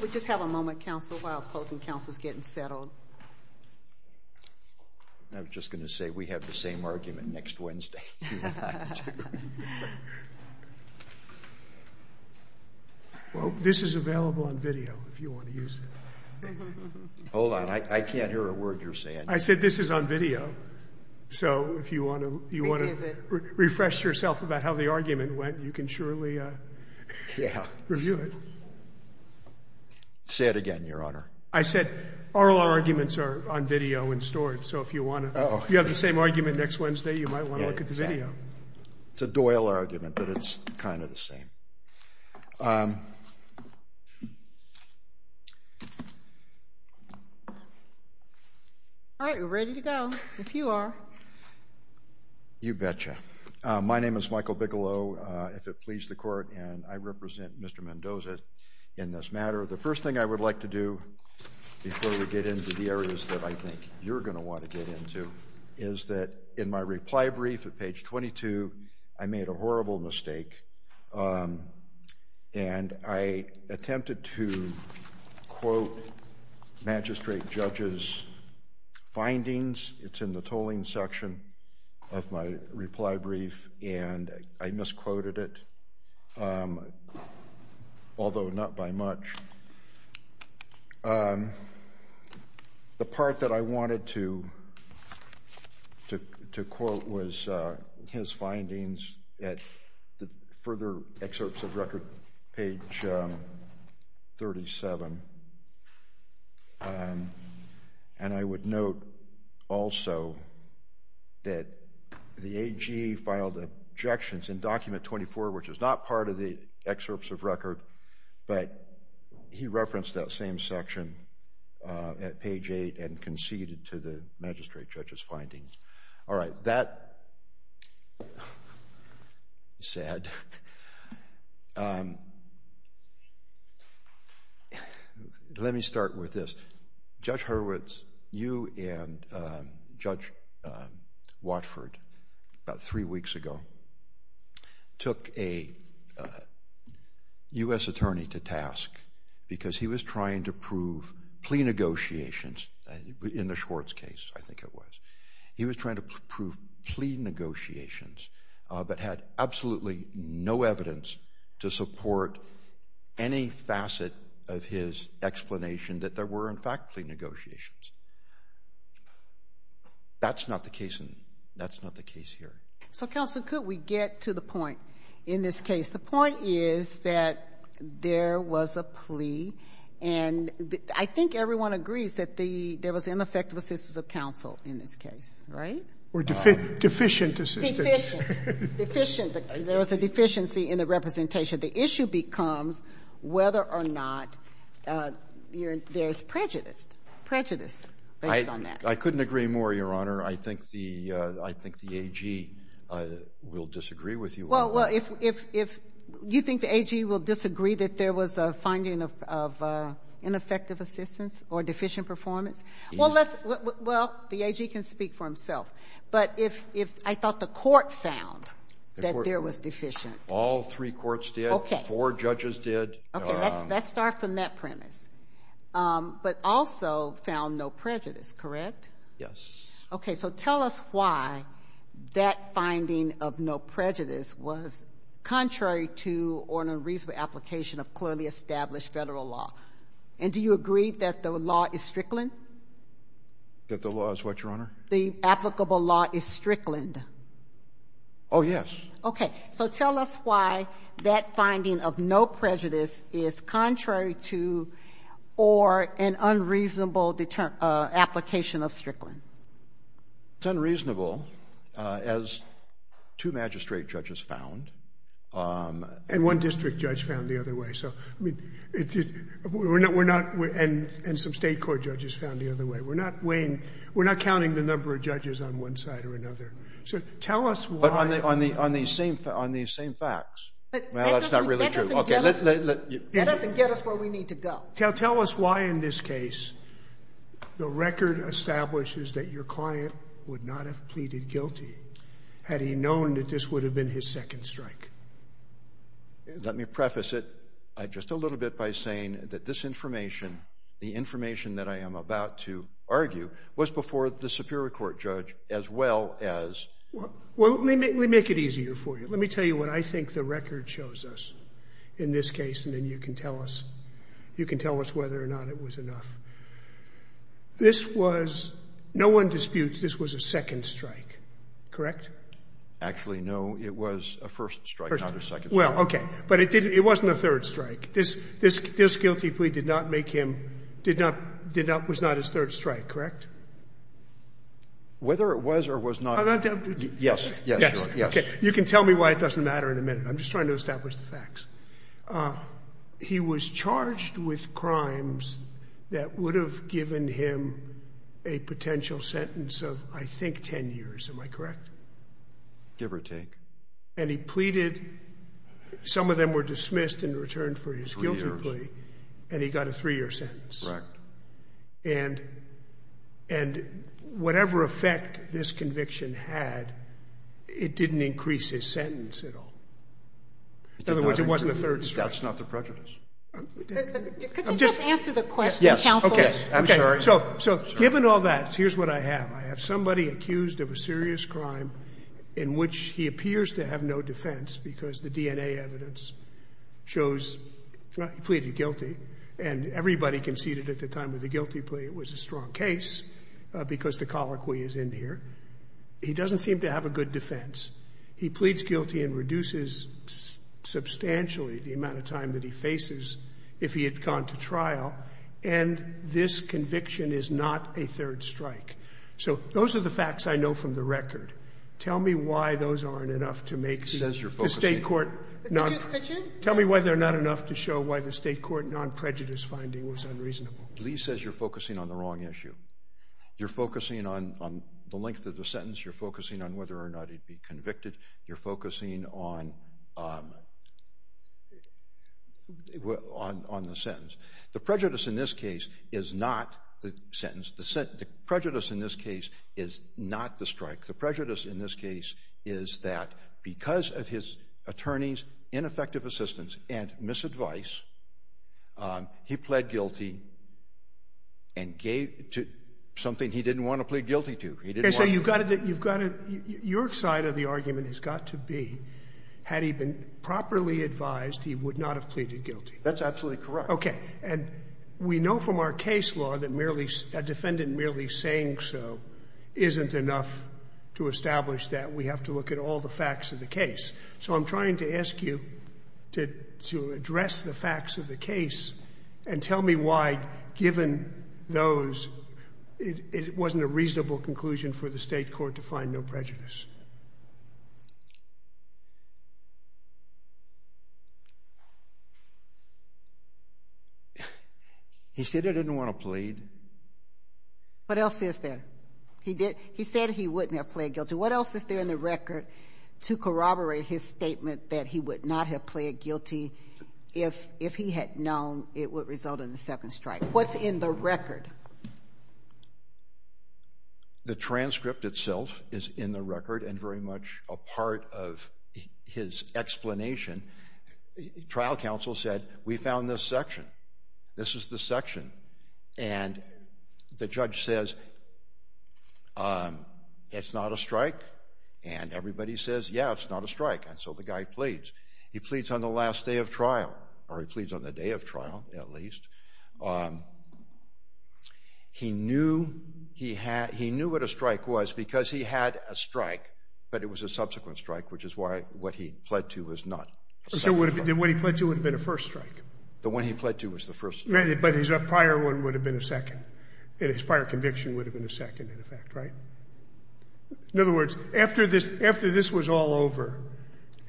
We'll just have a moment, Council, while opposing Council is getting settled. I'm just going to say we have the same argument next Wednesday. Well, this is available on video if you want to use it. Hold on, I can't hear a word you're saying. I said this is on video. So if you want to you want to refresh yourself about how the argument went, you can surely review it. Say it again, Your Honor. I said all our arguments are on video and stored. So if you want to, you have the same argument next Wednesday. You might want to look at the video. It's a Doyle argument, but it's kind of the same. All right, we're ready to go, if you are. You betcha. My name is Michael Bigelow, if it please the court, and I represent Mr. Mendoza in this matter. The first thing I would like to do before we get into the areas that I think you're going to want to get into is that in my reply brief at page 22, I made a horrible mistake and I attempted to quote magistrate judge's findings. It's in the tolling section of my reply brief, and I misquoted it, although not by much. The part that I wanted to to to quote was his findings at the further excerpts of record page 37. And I would note also that the AG filed objections in document 24, which is not part of the excerpts of record. But he referenced that same section at page eight and conceded to the magistrate judge's findings. All right. That said, let me start with this. Judge Hurwitz, you and Judge Watford about three weeks ago took a U.S. attorney to task because he was trying to prove plea negotiations. In the Schwartz case, I think it was. He was trying to prove plea negotiations, but had absolutely no evidence to support any facet of his explanation that there were, in fact, plea negotiations. That's not the case, and that's not the case here. So, counsel, could we get to the point in this case? The point is that there was a plea. And I think everyone agrees that the there was ineffective assistance of counsel in this case, right? We're deficient, deficient, deficient. There was a deficiency in the representation. The issue becomes whether or not there's prejudice, prejudice based on that. I couldn't agree more, Your Honor. I think the I think the AG will disagree with you. Well, well, if if if you think the AG will disagree that there was a finding of of ineffective assistance or deficient performance. Well, let's well, the AG can speak for himself. But if if I thought the court found that there was deficient. All three courts did. Four judges did. OK, let's let's start from that premise, but also found no prejudice, correct? Yes. OK, so tell us why that finding of no prejudice was contrary to or unreasonable application of clearly established federal law. And do you agree that the law is strickland? That the law is what, Your Honor? The applicable law is strickland. Oh, yes. OK. So tell us why that finding of no prejudice is contrary to or an unreasonable deterrent application of strickland. It's unreasonable, as two magistrate judges found and one district judge found the other way. So I mean, it's just we're not we're not. And and some state court judges found the other way. We're not weighing. We're not counting the number of judges on one side or another. So tell us why on the on the on the same on the same facts. Well, it's not really true. OK, let's let you get us where we need to go. Tell us why in this case the record establishes that your client would not have pleaded guilty. Had he known that this would have been his second strike? Let me preface it just a little bit by saying that this information, the information that I am about to argue was before the Superior Court judge, as well as well, let me make it easier for you. Let me tell you what I think the record shows us in this case. And then you can tell us you can tell us whether or not it was enough. This was no one disputes. This was a second strike, correct? Actually, no, it was a first strike. Well, OK, but it didn't it wasn't a third strike. This this this guilty plea did not make him did not did not was not his third strike, correct? Whether it was or was not. Yes, yes, yes. You can tell me why it doesn't matter in a minute. I'm just trying to establish the facts. He was charged with crimes that would have given him a potential sentence of, I think, 10 years. Am I correct? Give or take. And he pleaded. Some of them were dismissed and returned for his guilty plea. And he got a three year sentence. Correct. And and whatever effect this conviction had, it didn't increase his sentence at all. In other words, it wasn't a third strike. That's not the prejudice. Could you just answer the question? Yes. OK, I'm sorry. So so given all that, here's what I have. I have somebody accused of a serious crime in which he appears to have no defense because the DNA evidence shows he pleaded guilty and everybody conceded at the time of the guilty plea, it was a strong case because the colloquy is in here. He doesn't seem to have a good defense. He pleads guilty and reduces substantially the amount of time that he faces if he had gone to trial. And this conviction is not a third strike. So those are the facts I know from the record. Tell me why those aren't enough to make sense. The state court. Tell me why they're not enough to show why the state court non prejudice finding was unreasonable. Lee says you're focusing on the wrong issue. You're focusing on the length of the sentence. You're focusing on whether or not he'd be convicted. You're focusing on. On the sentence. The prejudice in this case is not the sentence. The prejudice in this case is not the strike. The prejudice in this case is that because of his attorney's ineffective assistance and misadvice, he pled guilty. And gave to something he didn't want to plead guilty to. He didn't say you've got to you've got to your side of the argument has got to be had he been properly advised, he would not have pleaded guilty. That's absolutely correct. OK, and we know from our case law that merely a defendant merely saying so isn't enough to establish that. We have to look at all the facts of the case. So I'm trying to ask you to to address the facts of the case and tell me why, given those, it wasn't a reasonable conclusion for the state court to find no prejudice. He said I didn't want to plead. What else is there? He did. He said he wouldn't have pled guilty. What else is there in the record to corroborate his statement that he would not have pled guilty if if he had known it would result in the second strike? What's in the record? The transcript itself is in the record and very much a part of his explanation. Trial counsel said we found this section. This is the section. And the judge says. It's not a strike. And everybody says, yeah, it's not a strike. And so the guy pleads, he pleads on the last day of trial or he pleads on the day of trial, at least. He knew he had he knew what a strike was because he had a strike, but it was a subsequent strike, which is why what he pled to was not. So what he pled to would have been a first strike. The one he pled to was the first. But his prior one would have been a second. And his prior conviction would have been a second in effect. Right. In other words, after this, after this was all over,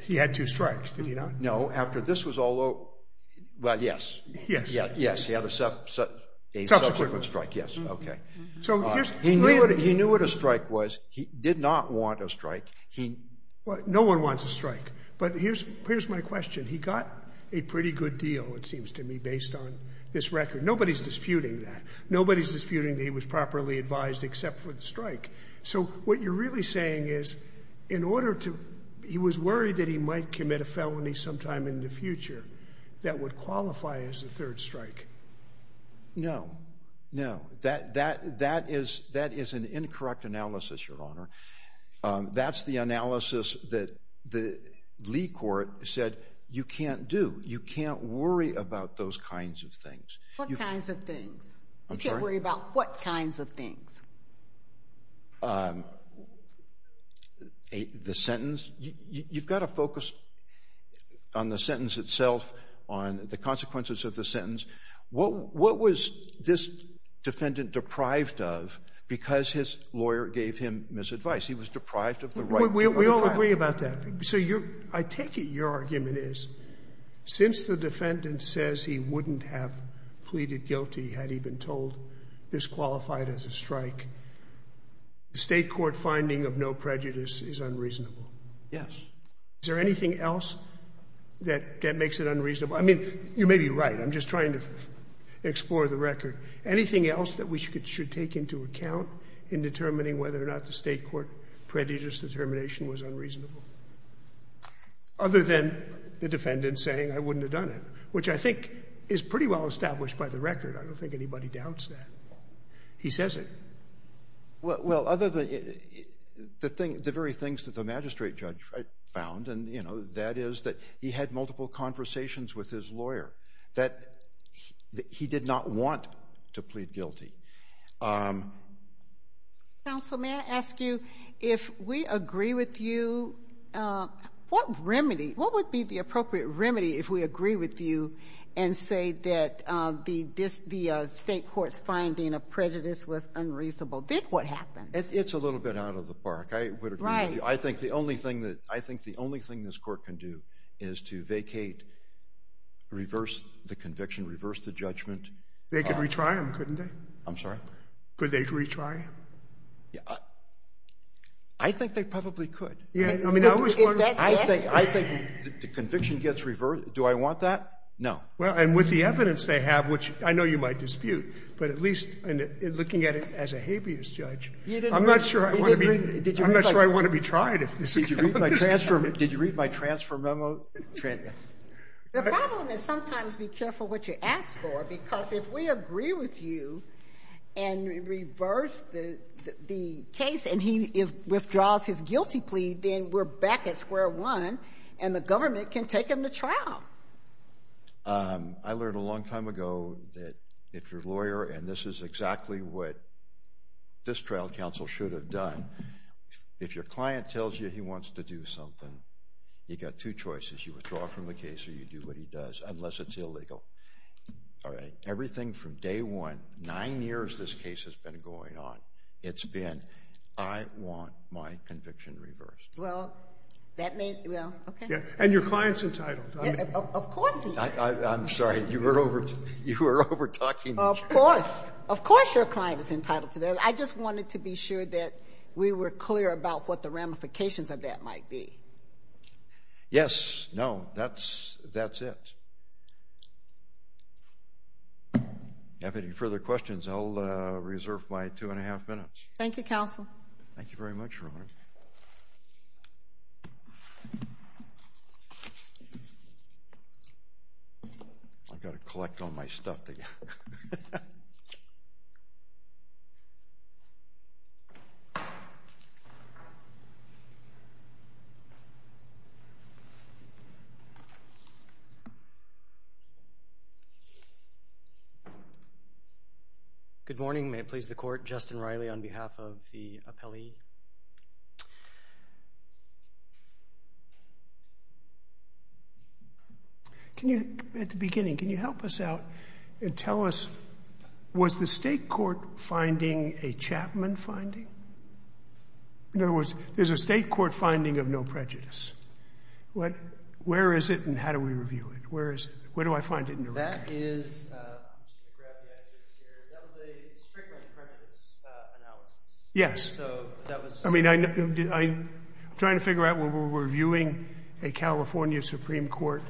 he had two strikes, did he not? No. After this was all over. Well, yes, yes, yes. He had a subsequent strike. Yes. OK. So he knew what he knew what a strike was. He did not want a strike. He no one wants a strike. But here's here's my question. He got a pretty good deal, it seems to me, based on this record. Nobody's disputing that. Nobody's disputing that he was properly advised except for the strike. So what you're really saying is in order to he was worried that he might commit a felony sometime in the future that would qualify as a third strike. No, no, that that that is that is an incorrect analysis, Your Honor. That's the analysis that the Lee court said you can't do. You can't worry about those kinds of things, what kinds of things you can't worry about, what kinds of things? The sentence, you've got to focus. On the sentence itself, on the consequences of the sentence. What what was this defendant deprived of because his lawyer gave him misadvice? He was deprived of the right. We all agree about that. So you're I take it your argument is since the defendant says he wouldn't have pleaded guilty had he been told this qualified as a strike. The state court finding of no prejudice is unreasonable. Yes. Is there anything else that that makes it unreasonable? I mean, you may be right. I'm just trying to explore the record. Anything else that we should take into account in determining whether or not the state court prejudice determination was unreasonable? Other than the defendant saying I wouldn't have done it, which I think is pretty well established by the record. I don't think anybody doubts that he says it. Well, other than the thing, the very things that the magistrate judge found. And, you know, that is that he had multiple conversations with his lawyer that he did not want to plead guilty. Counsel, may I ask you, if we agree with you, what remedy what would be the appropriate remedy if we agree with you and say that the the state court's finding of prejudice was unreasonable? Did what happened? It's a little bit out of the park. I would agree. I think the only thing that I think the only thing this court can do is to vacate, reverse the conviction, reverse the judgment. They could retry him, couldn't they? I'm sorry. Could they retry? Yeah, I think they probably could. Yeah. I mean, I always I think I think the conviction gets reversed. Do I want that? No. Well, and with the evidence they have, which I know you might dispute, but at least in looking at it as a habeas judge, I'm not sure I want to be I'm not sure I want to be tried. If this is my transfer, did you read my transfer memo? The problem is sometimes be careful what you ask for, because if we agree with you and reverse the the case and he withdraws his guilty plea, then we're back at square one and the government can take him to trial. I learned a long time ago that if your lawyer and this is exactly what. This trial counsel should have done, if your client tells you he wants to do something, you got two choices, you withdraw from the case or you do what he does, unless it's illegal. All right. Everything from day one, nine years this case has been going on. It's been I want my conviction reversed. Well, that may well. OK. Yeah. And your client's entitled. Of course. I'm sorry. You were over. You were over talking. Of course. Of course. Your client is entitled to that. I just wanted to be sure that we were clear about what the ramifications of that might be. Yes. No, that's that's it. Thank you. Thank you. No further questions, I'll reserve my two and a half minutes. Thank you, counsel. Thank you very much for. I've got to collect all my stuff together. Good morning, may it please the court, Justin Riley on behalf of the appellee. Can you, at the beginning, can you help us out and tell us, was the state court finding a Chapman finding? In other words, there's a state court finding of no prejudice. Where is it and how do we review it? Where is it? Where do I find it in the record? That is, I'm just going to grab the evidence here, that was a strictly prejudice analysis. Yes, I mean, I'm trying to figure out whether we're reviewing a California Supreme Court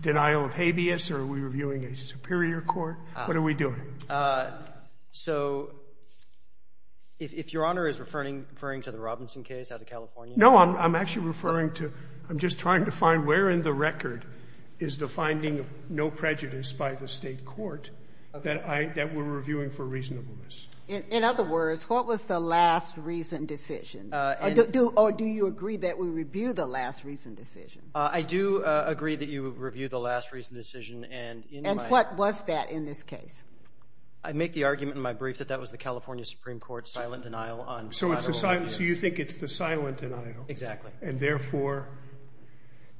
denial of habeas or are we reviewing a superior court? What are we doing? So, if Your Honor is referring to the Robinson case out of California. No, I'm actually referring to, I'm just trying to find where in the record is the finding of no prejudice by the state court that we're reviewing for reasonableness. In other words, what was the last reason decision? Or do you agree that we review the last reason decision? I do agree that you would review the last reason decision and in my. And what was that in this case? I make the argument in my brief that that was the California Supreme Court silent denial on. So, you think it's the silent denial? Exactly. And therefore,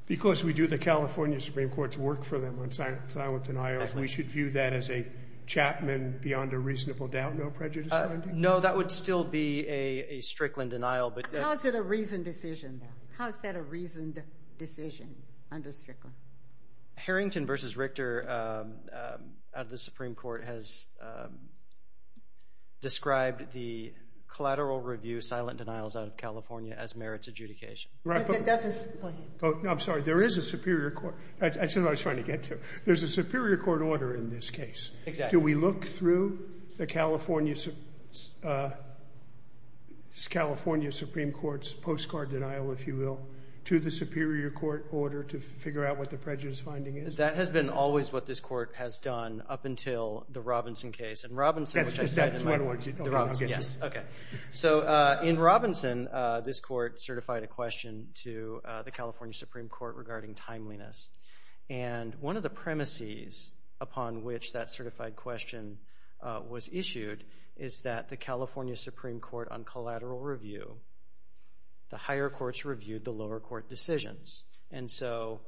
because we do the California Supreme Court's work for them on silent denials, we should view that as a Chapman beyond a reasonable doubt no prejudice finding? No, that would still be a Strickland denial. But how is it a reasoned decision? How is that a reasoned decision under Strickland? Harrington versus Richter out of the Supreme Court has described the collateral review silent denials out of California as merits adjudication. I'm sorry, there is a Superior Court. That's what I was trying to get to. There's a Superior Court order in this case. Exactly. So, we look through the California Supreme Court's postcard denial, if you will, to the Superior Court order to figure out what the prejudice finding is? That has been always what this court has done up until the Robinson case. That's what I wanted to get to. So, in Robinson, this court certified a question to the California Supreme Court regarding timeliness. And one of the premises upon which that certified question was issued is that the California Supreme Court on collateral review, the higher courts reviewed the lower court decisions. And so,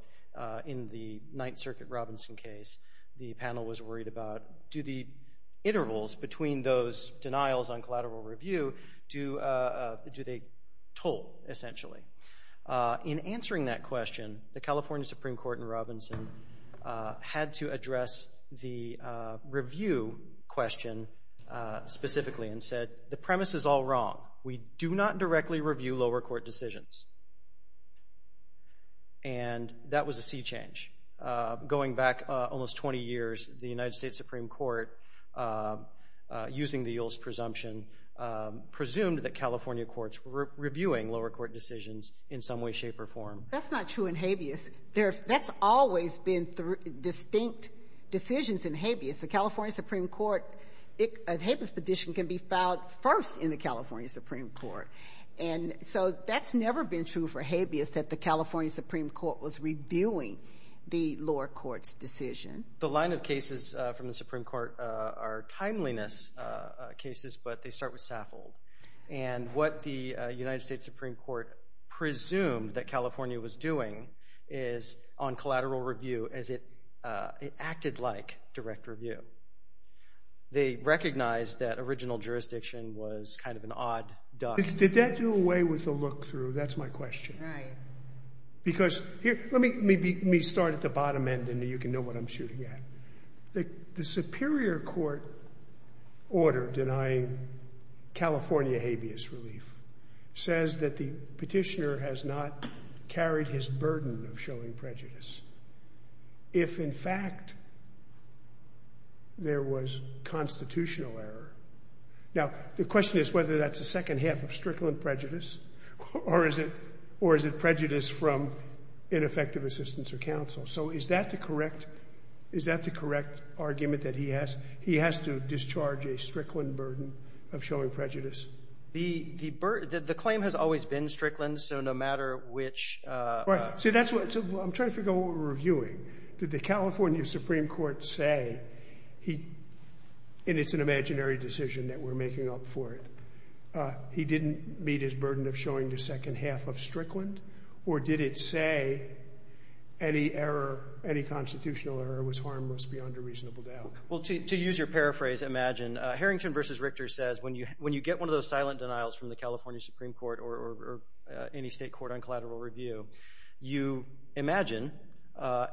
in the Ninth Circuit Robinson case, the panel was worried about do the intervals between those denials on collateral review, do they toll, essentially? In answering that question, the California Supreme Court in Robinson had to address the review question specifically and said, the premise is all wrong. We do not directly review lower court decisions. And that was a sea change. Going back almost 20 years, the United States Supreme Court, using the Yule's presumption, presumed that California courts were reviewing lower court decisions in some way, shape, or form. That's not true in Habeas. That's always been distinct decisions in Habeas. The California Supreme Court, a Habeas petition can be filed first in the California Supreme Court. And so, that's never been true for Habeas, that the California Supreme Court was reviewing the lower court's decision. The line of cases from the Supreme Court are timeliness cases, but they start with Saffold. And what the United States Supreme Court presumed that California was doing is on collateral review as it acted like direct review. They recognized that original jurisdiction was kind of an odd duck. Did that do away with the look through? That's my question. Right. Because here, let me start at the bottom end and you can know what I'm shooting at. The Superior Court order denying California Habeas relief says that the petitioner has not carried his burden of showing prejudice. If, in fact, there was constitutional error. Now, the question is whether that's a second half of Strickland prejudice or is it prejudice from ineffective assistance or counsel. So, is that the correct argument that he has? He has to discharge a Strickland burden of showing prejudice. The claim has always been Strickland, so no matter which— See, that's what—I'm trying to figure out what we're reviewing. Did the California Supreme Court say he—and it's an imaginary decision that we're making up for it. He didn't meet his burden of showing the second half of Strickland? Or did it say any error, any constitutional error was harmless beyond a reasonable doubt? Well, to use your paraphrase, imagine. Harrington v. Richter says when you get one of those silent denials from the California Supreme Court or any state court on collateral review, you imagine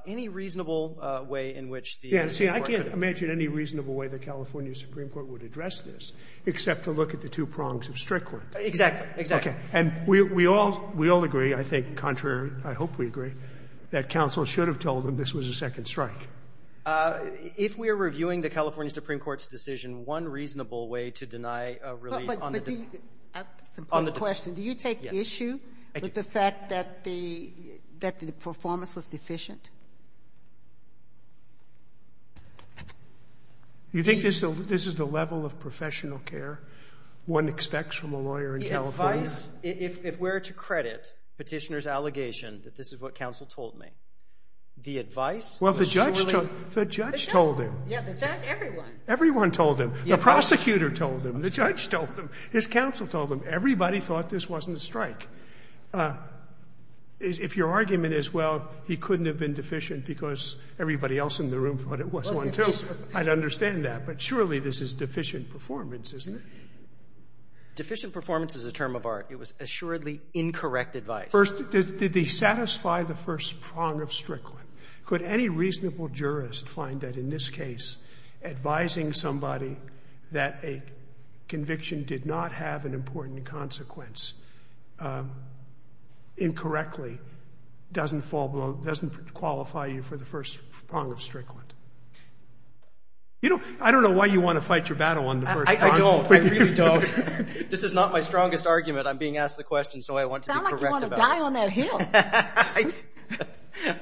any reasonable way in which the Supreme Court could— Yeah, see, I can't imagine any reasonable way the California Supreme Court would address this except to look at the two prongs of Strickland. Exactly. Exactly. Okay. And we all agree, I think, contrary—I hope we agree, that counsel should have told him this was a second strike. If we are reviewing the California Supreme Court's decision, one reasonable way to deny relief on the— But do you—I have a question. Do you take issue with the fact that the performance was deficient? You think this is the level of professional care one expects from a lawyer in California? The advice—if we're to credit Petitioner's allegation that this is what counsel told me, the advice— Well, the judge told him. Yeah, the judge, everyone. Everyone told him. The prosecutor told him. The judge told him. His counsel told him. Everybody thought this wasn't a strike. If your argument is, well, he couldn't have been deficient because everybody else in the room thought it was one, too, I'd understand that. But surely this is deficient performance, isn't it? Deficient performance is a term of art. It was assuredly incorrect advice. First, did they satisfy the first prong of Strickland? Could any reasonable jurist find that in this case advising somebody that a conviction did not have an important consequence incorrectly doesn't fall below— doesn't qualify you for the first prong of Strickland? You know, I don't know why you want to fight your battle on the first prong. I don't. I really don't. This is not my strongest argument. I'm being asked the question so I want to be correct about it. It's not like you want to die on that hill.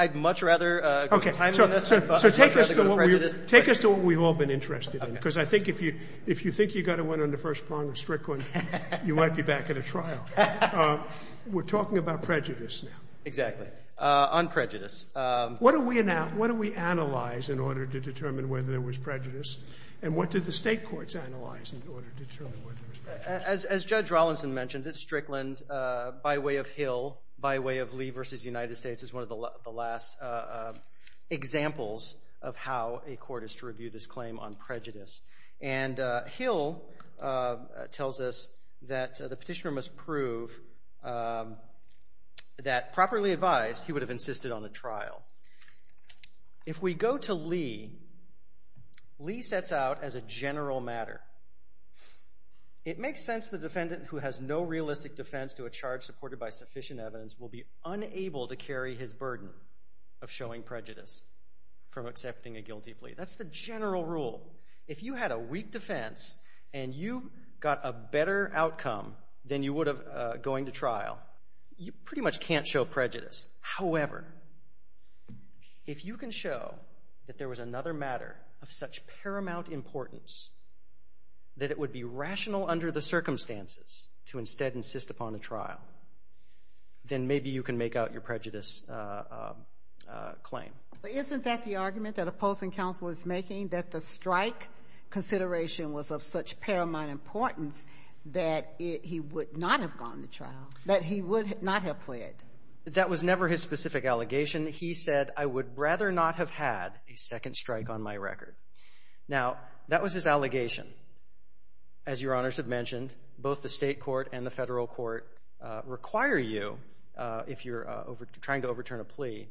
I'd much rather go to time limits. Okay, so take us to what we've all been interested in because I think if you think you got a win on the first prong of Strickland, you might be back at a trial. We're talking about prejudice now. Exactly, on prejudice. What do we analyze in order to determine whether there was prejudice? As Judge Rollinson mentioned, it's Strickland by way of Hill, by way of Lee v. United States is one of the last examples of how a court is to review this claim on prejudice. And Hill tells us that the petitioner must prove that properly advised, he would have insisted on a trial. If we go to Lee, Lee sets out as a general matter. It makes sense the defendant who has no realistic defense to a charge supported by sufficient evidence will be unable to carry his burden of showing prejudice from accepting a guilty plea. That's the general rule. If you had a weak defense and you got a better outcome than you would have going to trial, you pretty much can't show prejudice. However, if you can show that there was another matter of such paramount importance that it would be rational under the circumstances to instead insist upon a trial, then maybe you can make out your prejudice claim. Isn't that the argument that opposing counsel is making, that the strike consideration was of such paramount importance that he would not have gone to trial, that he would not have pled? That was never his specific allegation. He said, I would rather not have had a second strike on my record. Now, that was his allegation. As your honors have mentioned, both the state court and the federal court require you, if you're trying to overturn a plea,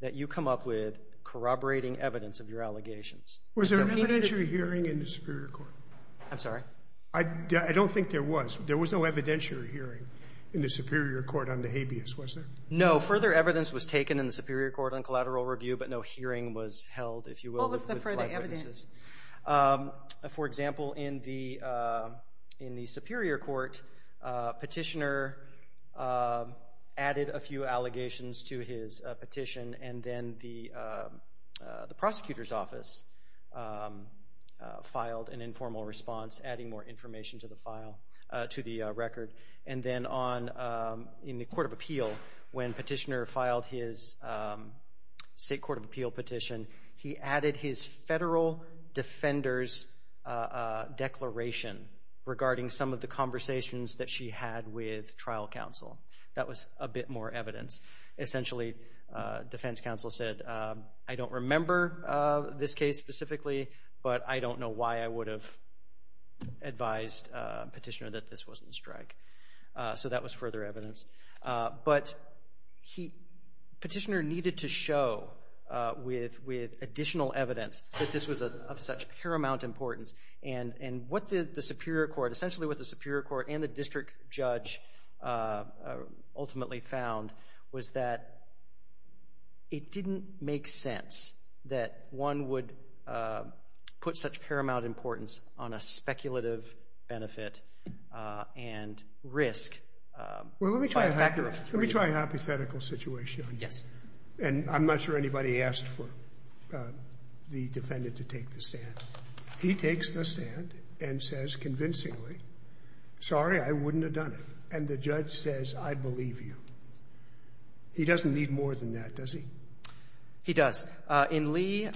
that you come up with corroborating evidence of your allegations. Was there an evidentiary hearing in the superior court? I'm sorry? I don't think there was. There was no evidentiary hearing in the superior court on the habeas, was there? No. Further evidence was taken in the superior court on collateral review, but no hearing was held, if you will. What was the further evidence? For example, in the superior court, Petitioner added a few allegations to his petition, and then the prosecutor's office filed an informal response, adding more information to the record. And then in the court of appeal, when Petitioner filed his state court of appeal petition, he added his federal defender's declaration regarding some of the conversations that she had with trial counsel. That was a bit more evidence. Essentially, defense counsel said, I don't remember this case specifically, but I don't know why I would have advised Petitioner that this wasn't a strike. So that was further evidence. But Petitioner needed to show with additional evidence that this was of such paramount importance. And what the superior court, essentially what the superior court and the district judge ultimately found was that it didn't make sense that one would put such paramount importance on a speculative benefit and risk. Let me try a hypothetical situation. Yes. And I'm not sure anybody asked for the defendant to take the stand. He takes the stand and says convincingly, sorry, I wouldn't have done it. And the judge says, I believe you. He doesn't need more than that, does he? He does. In Lee,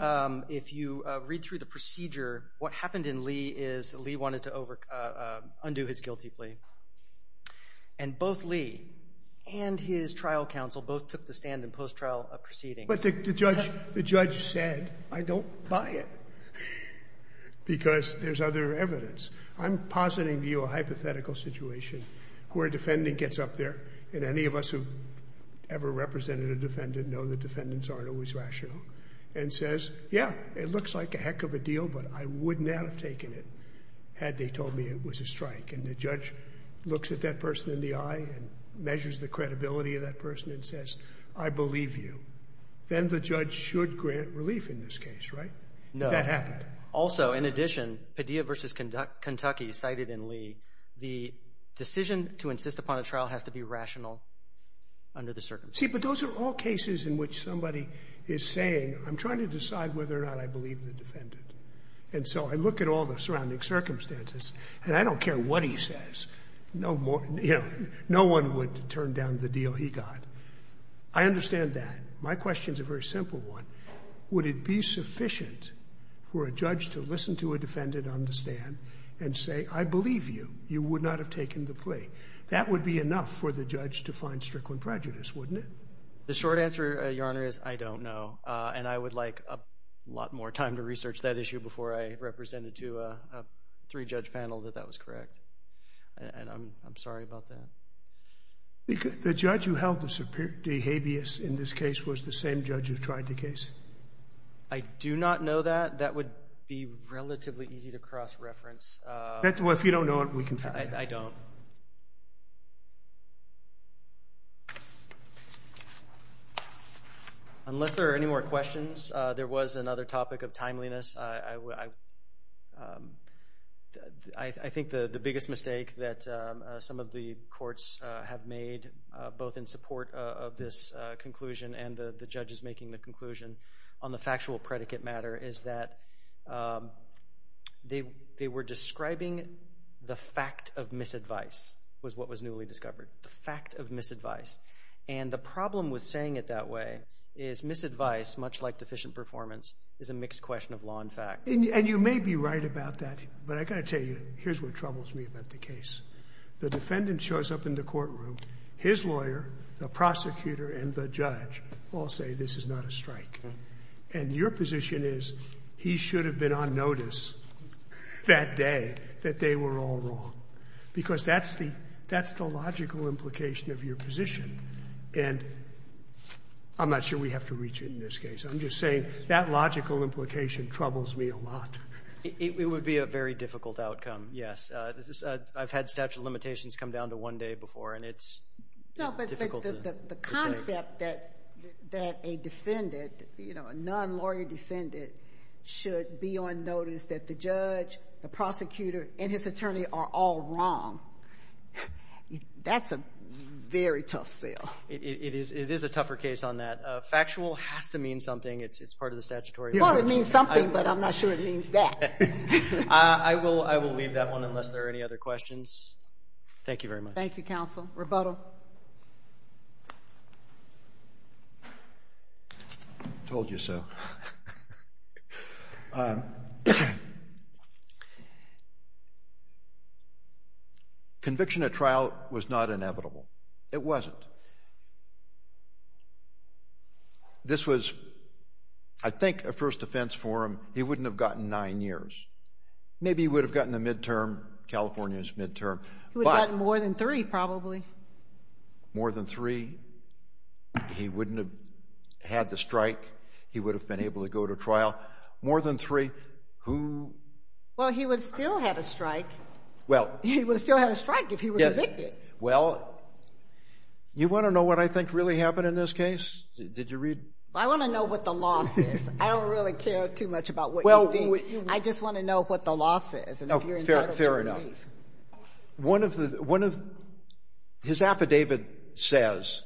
if you read through the procedure, what happened in Lee is Lee wanted to undo his guilty plea. And both Lee and his trial counsel both took the stand in post-trial proceedings. But the judge said, I don't buy it because there's other evidence. I'm positing to you a hypothetical situation where a defendant gets up there, and any of us who ever represented a defendant know that defendants aren't always rational, and says, yeah, it looks like a heck of a deal, but I wouldn't have taken it had they told me it was a strike. And the judge looks at that person in the eye and measures the credibility of that person and says, I believe you. Then the judge should grant relief in this case, right? No. That happened. Also, in addition, Padilla v. Kentucky cited in Lee, the decision to insist upon a trial has to be rational under the circumstances. See, but those are all cases in which somebody is saying, I'm trying to decide whether or not I believe the defendant. And so I look at all the surrounding circumstances, and I don't care what he says. No one would turn down the deal he got. I understand that. My question is a very simple one. Would it be sufficient for a judge to listen to a defendant on the stand and say, I believe you, you would not have taken the plea? That would be enough for the judge to find strickland prejudice, wouldn't it? The short answer, Your Honor, is I don't know. And I would like a lot more time to research that issue before I represent it to a three-judge panel that that was correct. And I'm sorry about that. The judge who held the habeas in this case was the same judge who tried the case? I do not know that. That would be relatively easy to cross-reference. Well, if you don't know it, we can figure it out. I don't. Unless there are any more questions, there was another topic of timeliness. I think the biggest mistake that some of the courts have made, both in support of this conclusion and the judges making the conclusion on the factual predicate matter, is that they were describing the fact of misadvice was what was newly discovered, the fact of misadvice. And the problem with saying it that way is misadvice, much like deficient performance, is a mixed question of law and fact. And you may be right about that, but I've got to tell you, here's what troubles me about the case. The defendant shows up in the courtroom. His lawyer, the prosecutor, and the judge all say this is not a strike. And your position is he should have been on notice that day that they were all wrong. Because that's the logical implication of your position. And I'm not sure we have to reach it in this case. I'm just saying that logical implication troubles me a lot. It would be a very difficult outcome, yes. I've had statute of limitations come down to one day before, and it's difficult to determine. The concept that a defendant, a non-lawyer defendant, should be on notice that the judge, the prosecutor, and his attorney are all wrong, that's a very tough sell. It is a tougher case on that. Factual has to mean something. It's part of the statutory. Well, it means something, but I'm not sure it means that. I will leave that one unless there are any other questions. Thank you very much. Thank you, counsel. Rebuttal. Told you so. Conviction at trial was not inevitable. It wasn't. This was, I think, a first offense for him. He wouldn't have gotten nine years. Maybe he would have gotten a midterm, California's midterm. He would have gotten more than three, probably. More than three. He wouldn't have had the strike. He would have been able to go to trial. More than three. Who? Well, he would still have a strike. Well. He would still have a strike if he were convicted. Well, you want to know what I think really happened in this case? Did you read? I want to know what the law says. I don't really care too much about what you think. I just want to know what the law says and if you're entitled to believe. One of the, one of, his affidavit says,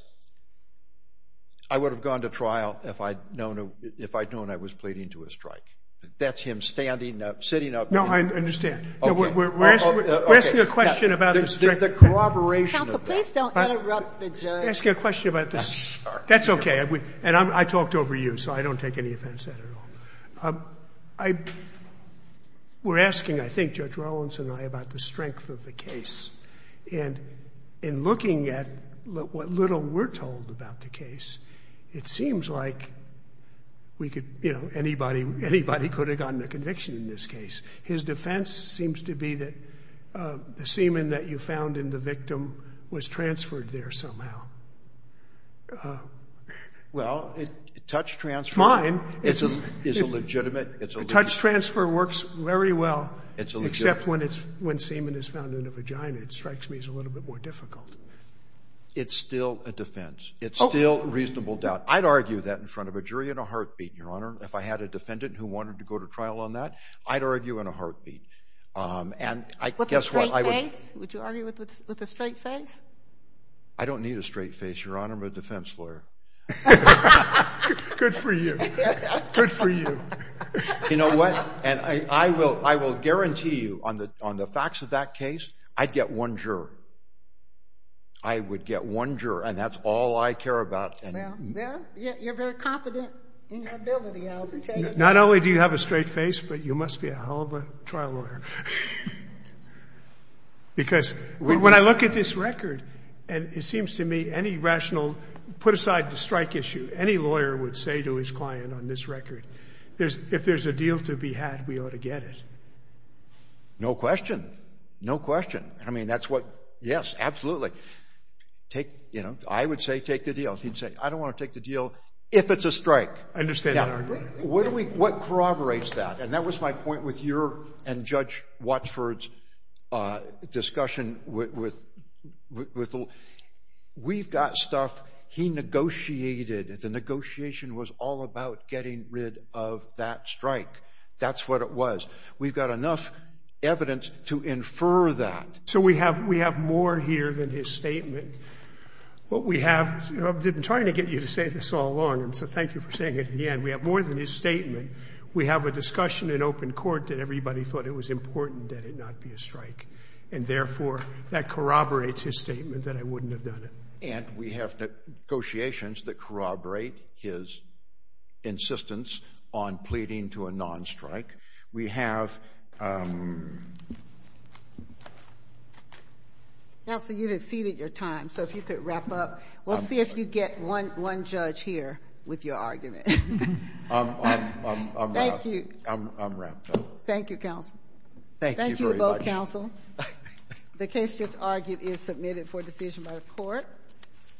I would have gone to trial if I'd known I was pleading to a strike. That's him standing up, sitting up. No, I understand. We're asking a question about the. The corroboration of that. Counsel, please don't interrupt the judge. We're asking a question about the. I'm sorry. That's okay. And I talked over you, so I don't take any offense at all. I. We're asking, I think, Judge Rollins and I about the strength of the case. And in looking at what little we're told about the case, it seems like. We could, you know, anybody, anybody could have gotten a conviction in this case. His defense seems to be that the semen that you found in the victim was transferred there somehow. Well, it touched transfer. It's mine. It's a legitimate. It's a. Touch transfer works very well. It's a. Except when it's when semen is found in the vagina. It strikes me as a little bit more difficult. It's still a defense. It's still reasonable doubt. I'd argue that in front of a jury in a heartbeat, Your Honor. If I had a defendant who wanted to go to trial on that, I'd argue in a heartbeat. And I guess what I would. Would you argue with a straight face? I don't need a straight face, Your Honor. I'm a defense lawyer. Good for you. Good for you. You know what? And I will. I will guarantee you on the on the facts of that case, I'd get one juror. I would get one juror. And that's all I care about. You're very confident in your ability. Not only do you have a straight face, but you must be a hell of a trial lawyer. Because when I look at this record, and it seems to me any rational, put aside the strike issue, any lawyer would say to his client on this record, if there's a deal to be had, we ought to get it. No question. No question. I mean, that's what, yes, absolutely. Take, you know, I would say take the deal. He'd say, I don't want to take the deal if it's a strike. I understand that argument. What corroborates that? And that was my point with your and Judge Watchford's discussion with the lawyer. We've got stuff he negotiated. The negotiation was all about getting rid of that strike. That's what it was. We've got enough evidence to infer that. So we have more here than his statement. What we have, I've been trying to get you to say this all along, and so thank you for saying it in the end. We have more than his statement. We have a discussion in open court that everybody thought it was important that it not be a strike, and therefore that corroborates his statement that I wouldn't have done it. And we have negotiations that corroborate his insistence on pleading to a non-strike. We have ‑‑ Counsel, you've exceeded your time, so if you could wrap up. We'll see if you get one judge here with your argument. I'm wrapped up. Thank you, Counsel. Thank you very much. Thank you both, Counsel. The case just argued is submitted for decision by the court.